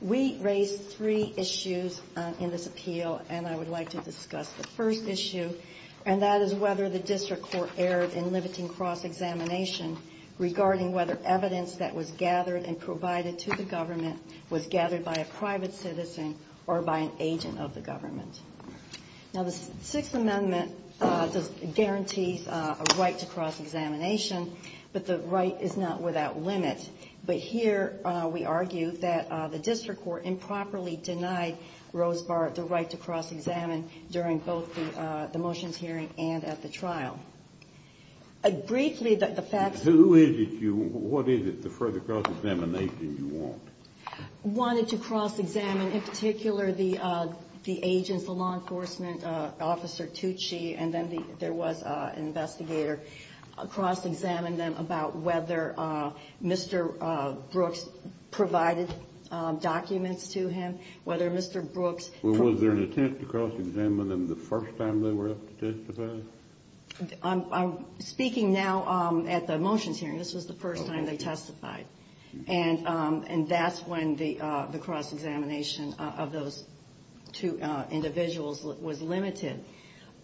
We raised three issues in this appeal and I would like to discuss the first issue and that is whether the district court erred in limiting cross-examination and whether or not the district court was able to do that. Regarding whether evidence that was gathered and provided to the government was gathered by a private citizen or by an agent of the government. Now, the Sixth Amendment does guarantee a right to cross-examination, but the right is not without limit. But here we argue that the district court improperly denied Rosebar the right to cross-examine during both the motions hearing and at the trial. Briefly, the facts... Who is it you... what is it the further cross-examination you want? Wanted to cross-examine in particular the agents, the law enforcement officer Tucci and then there was an investigator. Cross-examined them about whether Mr. Brooks provided documents to him, whether Mr. Brooks... Was there an attempt to cross-examine them the first time they were up to testify? I'm speaking now at the motions hearing. This was the first time they testified. And that's when the cross-examination of those two individuals was limited.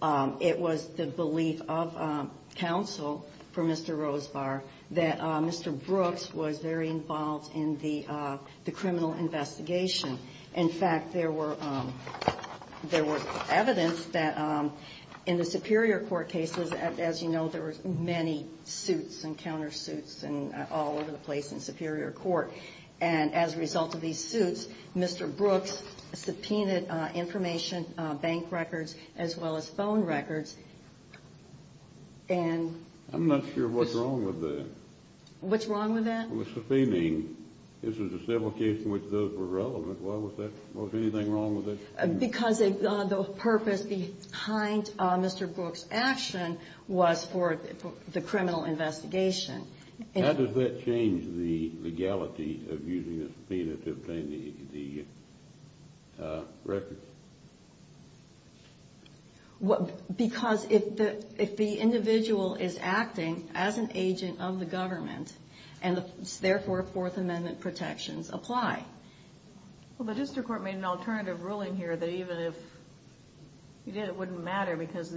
It was the belief of counsel for Mr. Rosebar that Mr. Brooks was very involved in the criminal investigation. In fact, there was evidence that in the Superior Court cases, as you know, there were many suits and countersuits all over the place in Superior Court. And as a result of these suits, Mr. Brooks subpoenaed information, bank records, as well as phone records. And... I'm not sure what's wrong with that. What's wrong with that? With subpoenaing, this was a civil case in which those were relevant. Why was that? Was anything wrong with it? Because the purpose behind Mr. Brooks' action was for the criminal investigation. How does that change the legality of using a subpoena to obtain the records? Because if the individual is acting as an agent of the government, and therefore Fourth Amendment protections apply. Well, the district court made an alternative ruling here that even if he did, it wouldn't matter because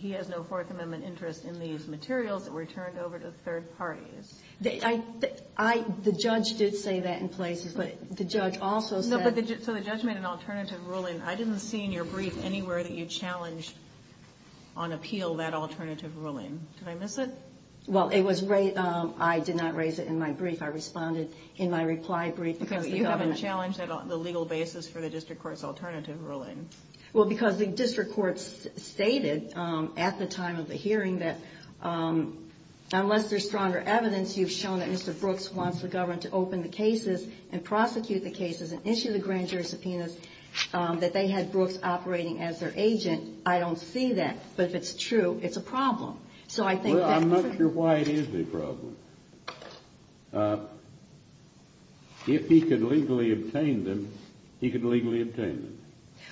he has no Fourth Amendment interest in these materials that were turned over to third parties. The judge did say that in places, but the judge also said... So the judge made an alternative ruling. I didn't see in your brief anywhere that you challenged on appeal that alternative ruling. Did I miss it? Well, I did not raise it in my brief. I responded in my reply brief because the government... Okay, but you haven't challenged the legal basis for the district court's alternative ruling. Well, because the district court stated at the time of the hearing that unless there's stronger evidence, you've shown that Mr. Brooks wants the government to open the cases and prosecute the cases and issue the grand jury subpoenas, that they had Brooks operating as their agent. I don't see that, but if it's true, it's a problem. Well, I'm not sure why it is a problem. If he could legally obtain them, he could legally obtain them.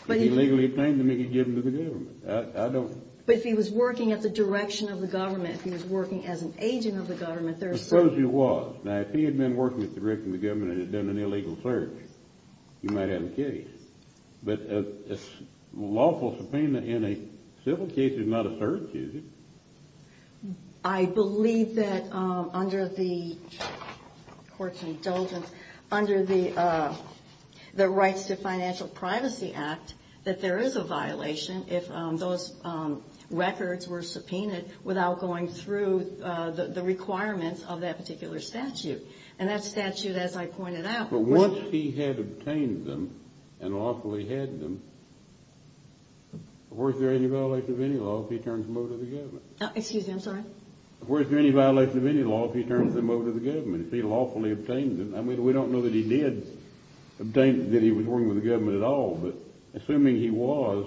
If he legally obtained them, he could give them to the government. I don't... But if he was working at the direction of the government, if he was working as an agent of the government, there are some... Suppose he was. Now, if he had been working at the direction of the government and had done an illegal search, he might have a case. But a lawful subpoena in a civil case is not a search, is it? I believe that under the court's indulgence, under the Rights to Financial Privacy Act, that there is a violation if those records were subpoenaed without going through the requirements of that particular statute. And that statute, as I pointed out... Once he had obtained them and lawfully had them, was there any violation of any law if he turned them over to the government? Excuse me, I'm sorry? Was there any violation of any law if he turned them over to the government, if he lawfully obtained them? I mean, we don't know that he did obtain... that he was working with the government at all. But assuming he was,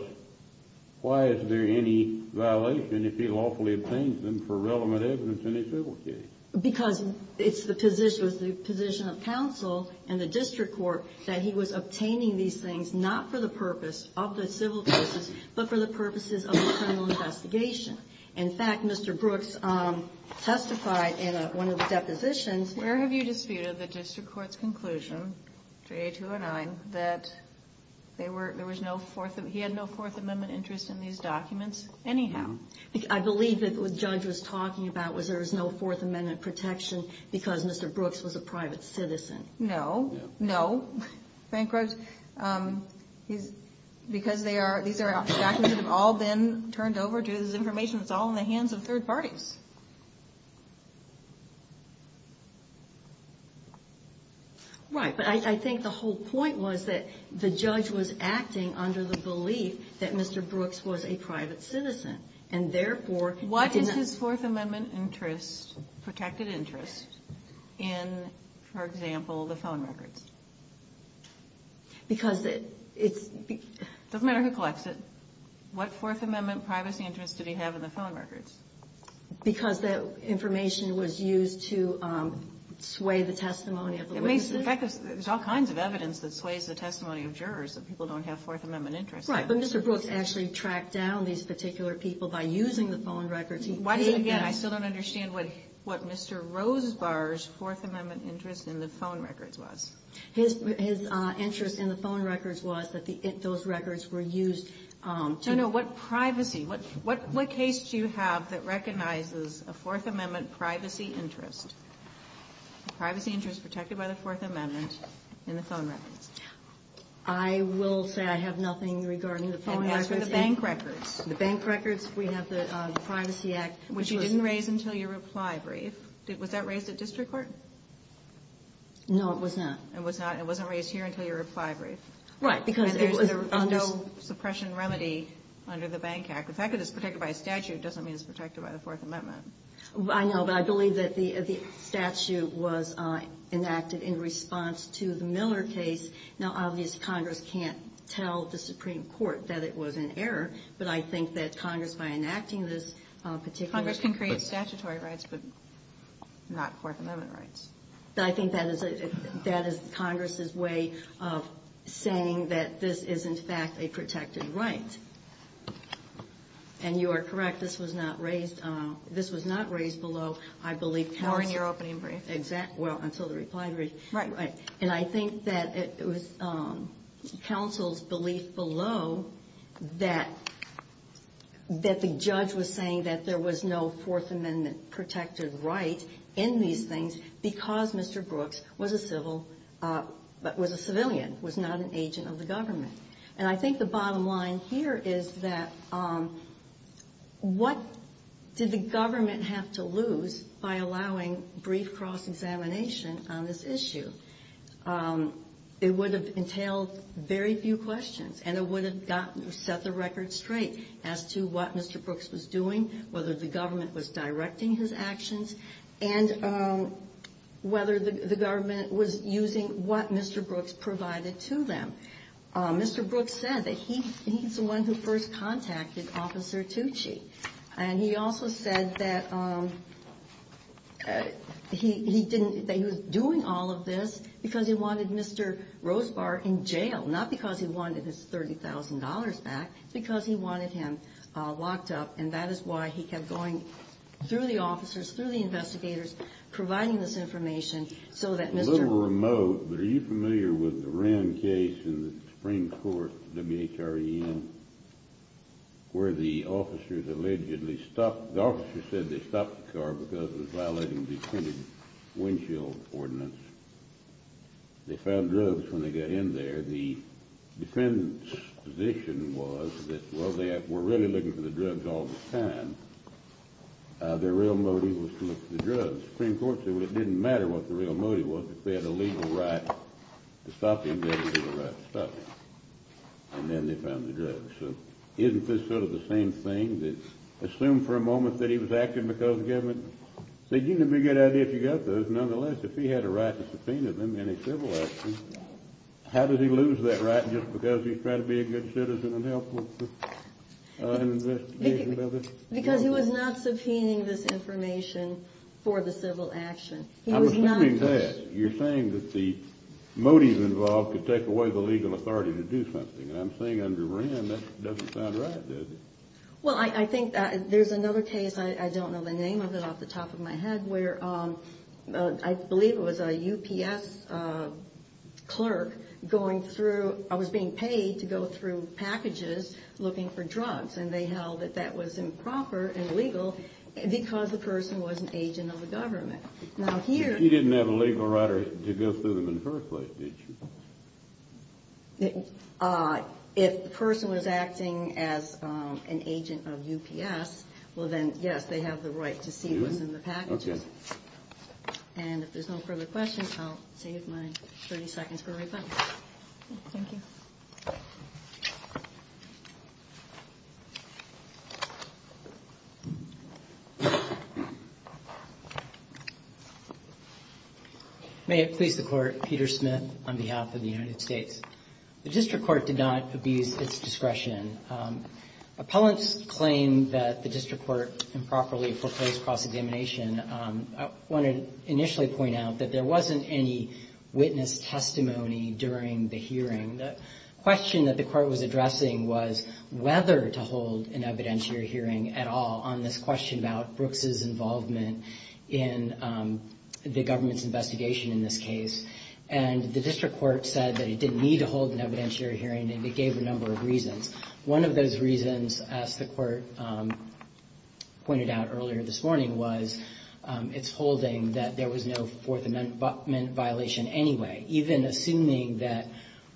why is there any violation if he lawfully obtained them for relevant evidence in a civil case? Because it's the position of counsel and the district court that he was obtaining these things not for the purpose of the civil cases, but for the purposes of the criminal investigation. In fact, Mr. Brooks testified in one of the depositions... Where have you disputed the district court's conclusion, J. 209, that he had no Fourth Amendment interest in these documents anyhow? I believe that what the judge was talking about was there was no Fourth Amendment protection because Mr. Brooks was a private citizen. No, no, Frank Rose. Because these are documents that have all been turned over to his information, it's all in the hands of third parties. Right, but I think the whole point was that the judge was acting under the belief that Mr. Brooks was a private citizen, and therefore... What is his Fourth Amendment interest, protected interest, in, for example, the phone records? Because it's... It doesn't matter who collects it. What Fourth Amendment privacy interest did he have in the phone records? Because that information was used to sway the testimony of the witnesses. In fact, there's all kinds of evidence that sways the testimony of jurors that people don't have Fourth Amendment interest in. Right, but Mr. Brooks actually tracked down these particular people by using the phone records. He paid them... Again, I still don't understand what Mr. Rosebar's Fourth Amendment interest in the phone records was. His interest in the phone records was that those records were used to... No, no, what privacy? What case do you have that recognizes a Fourth Amendment privacy interest? Privacy interest protected by the Fourth Amendment in the phone records. I will say I have nothing regarding the phone records. And as for the bank records? The bank records, we have the Privacy Act, which was... Which you didn't raise until your reply brief. Was that raised at district court? No, it was not. It was not. It wasn't raised here until your reply brief. Right, because... And there's no suppression remedy under the Bank Act. The fact that it's protected by a statute doesn't mean it's protected by the Fourth Amendment. I know, but I believe that the statute was enacted in response to the Miller case. Now, obviously, Congress can't tell the Supreme Court that it was in error, but I think that Congress, by enacting this particular... Congress can create statutory rights, but not Fourth Amendment rights. I think that is Congress's way of saying that this is, in fact, a protected right. And you are correct, this was not raised below, I believe, counsel's... Or in your opening brief. Exactly. Well, until the reply brief. Right. And I think that it was counsel's belief below that the judge was saying that there was no Fourth Amendment protected right in these things because Mr. Brooks was a civil... Was a civilian, was not an agent of the government. And I think the bottom line here is that what did the government have to lose by allowing brief cross-examination on this issue? It would have entailed very few questions, and it would have gotten... Set the record straight as to what Mr. Brooks was doing, whether the government was directing his actions, and whether the government was using what Mr. Brooks provided to them. Mr. Brooks said that he's the one who first contacted Officer Tucci. And he also said that he didn't... That he was doing all of this because he wanted Mr. Rosebar in jail, not because he wanted his $30,000 back, because he wanted him locked up. And that is why he kept going through the officers, through the investigators, providing this information so that Mr... But are you familiar with the Wren case in the Supreme Court, W-H-R-E-N, where the officers allegedly stopped... The officers said they stopped the car because it was violating the intended windshield ordinance. They found drugs when they got in there. The defendant's position was that, well, they were really looking for the drugs all the time. And the Supreme Court said, well, it didn't matter what the real motive was. If they had a legal right to stop him, they had a legal right to stop him. And then they found the drugs. So isn't this sort of the same thing that, assume for a moment that he was acting because the government... It seemed to be a good idea if you got those. Nonetheless, if he had a right to subpoena them in a civil action, how did he lose that right just because he was trying to be a good citizen and help with an investigation? Because he was not subpoenaing this information for the civil action. I'm assuming that. You're saying that the motive involved could take away the legal authority to do something. And I'm saying under Wren, that doesn't sound right, does it? Well, I think there's another case, I don't know the name of it off the top of my head, where I believe it was a UPS clerk going through... Yes, and they held that that was improper and illegal because the person was an agent of the government. Now here... But you didn't have a legal right to go through them in the first place, did you? If the person was acting as an agent of UPS, well then, yes, they have the right to see what's in the packages. Okay. And if there's no further questions, I'll save my 30 seconds for rebuttal. Thank you. May it please the Court, Peter Smith on behalf of the United States. The district court did not abuse its discretion. Appellants claim that the district court improperly foreclosed cross-examination. I want to initially point out that there wasn't any witness testimony during the hearing. The question that the court was addressing was whether to hold an evidentiary hearing at all on this question about Brooks' involvement in the government's investigation in this case. And the district court said that it didn't need to hold an evidentiary hearing, and it gave a number of reasons. One of those reasons, as the court pointed out earlier this morning, was it's holding that there was no Fourth Amendment violation anyway. Even assuming that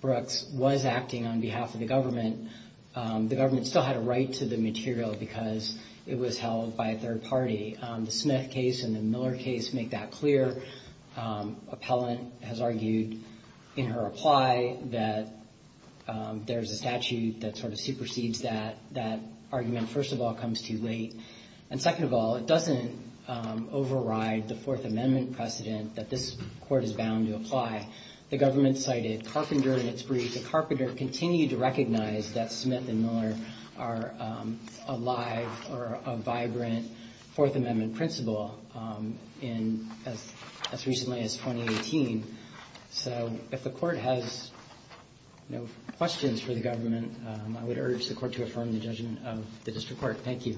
Brooks was acting on behalf of the government, the government still had a right to the material because it was held by a third party. The Smith case and the Miller case make that clear. Appellant has argued in her reply that there's a statute that sort of supersedes that. That argument, first of all, comes too late. And second of all, it doesn't override the Fourth Amendment precedent that this court is bound to apply. The government cited Carpenter in its brief. The Carpenter continued to recognize that Smith and Miller are alive or a vibrant Fourth Amendment principle as recently as 2018. So if the court has no questions for the government, I would urge the court to affirm the judgment of the district court. Thank you.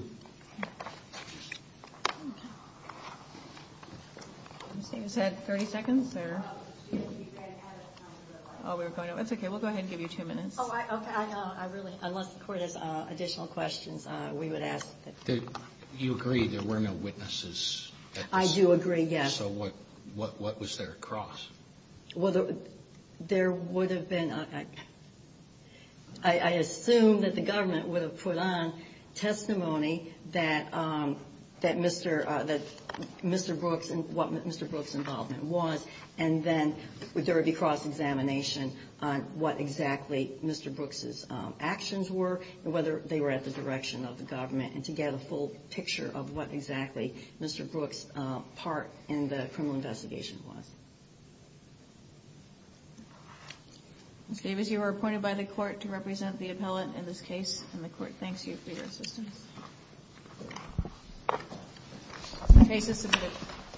Is that 30 seconds? We'll go ahead and give you two minutes. Unless the court has additional questions, we would ask. Do you agree there were no witnesses? I do agree, yes. So what was their cross? Well, there would have been, I assume that the government would have put on testimony that Mr. Brooks and what Mr. Brooks' involvement was, and then there would be cross-examination on what exactly Mr. Brooks' actions were, and whether they were at the direction of the government, and to get a full picture of what exactly Mr. Brooks' part in the criminal investigation was. Ms. Davis, you are appointed by the court to represent the appellant in this case. And the court thanks you for your assistance. The case is submitted.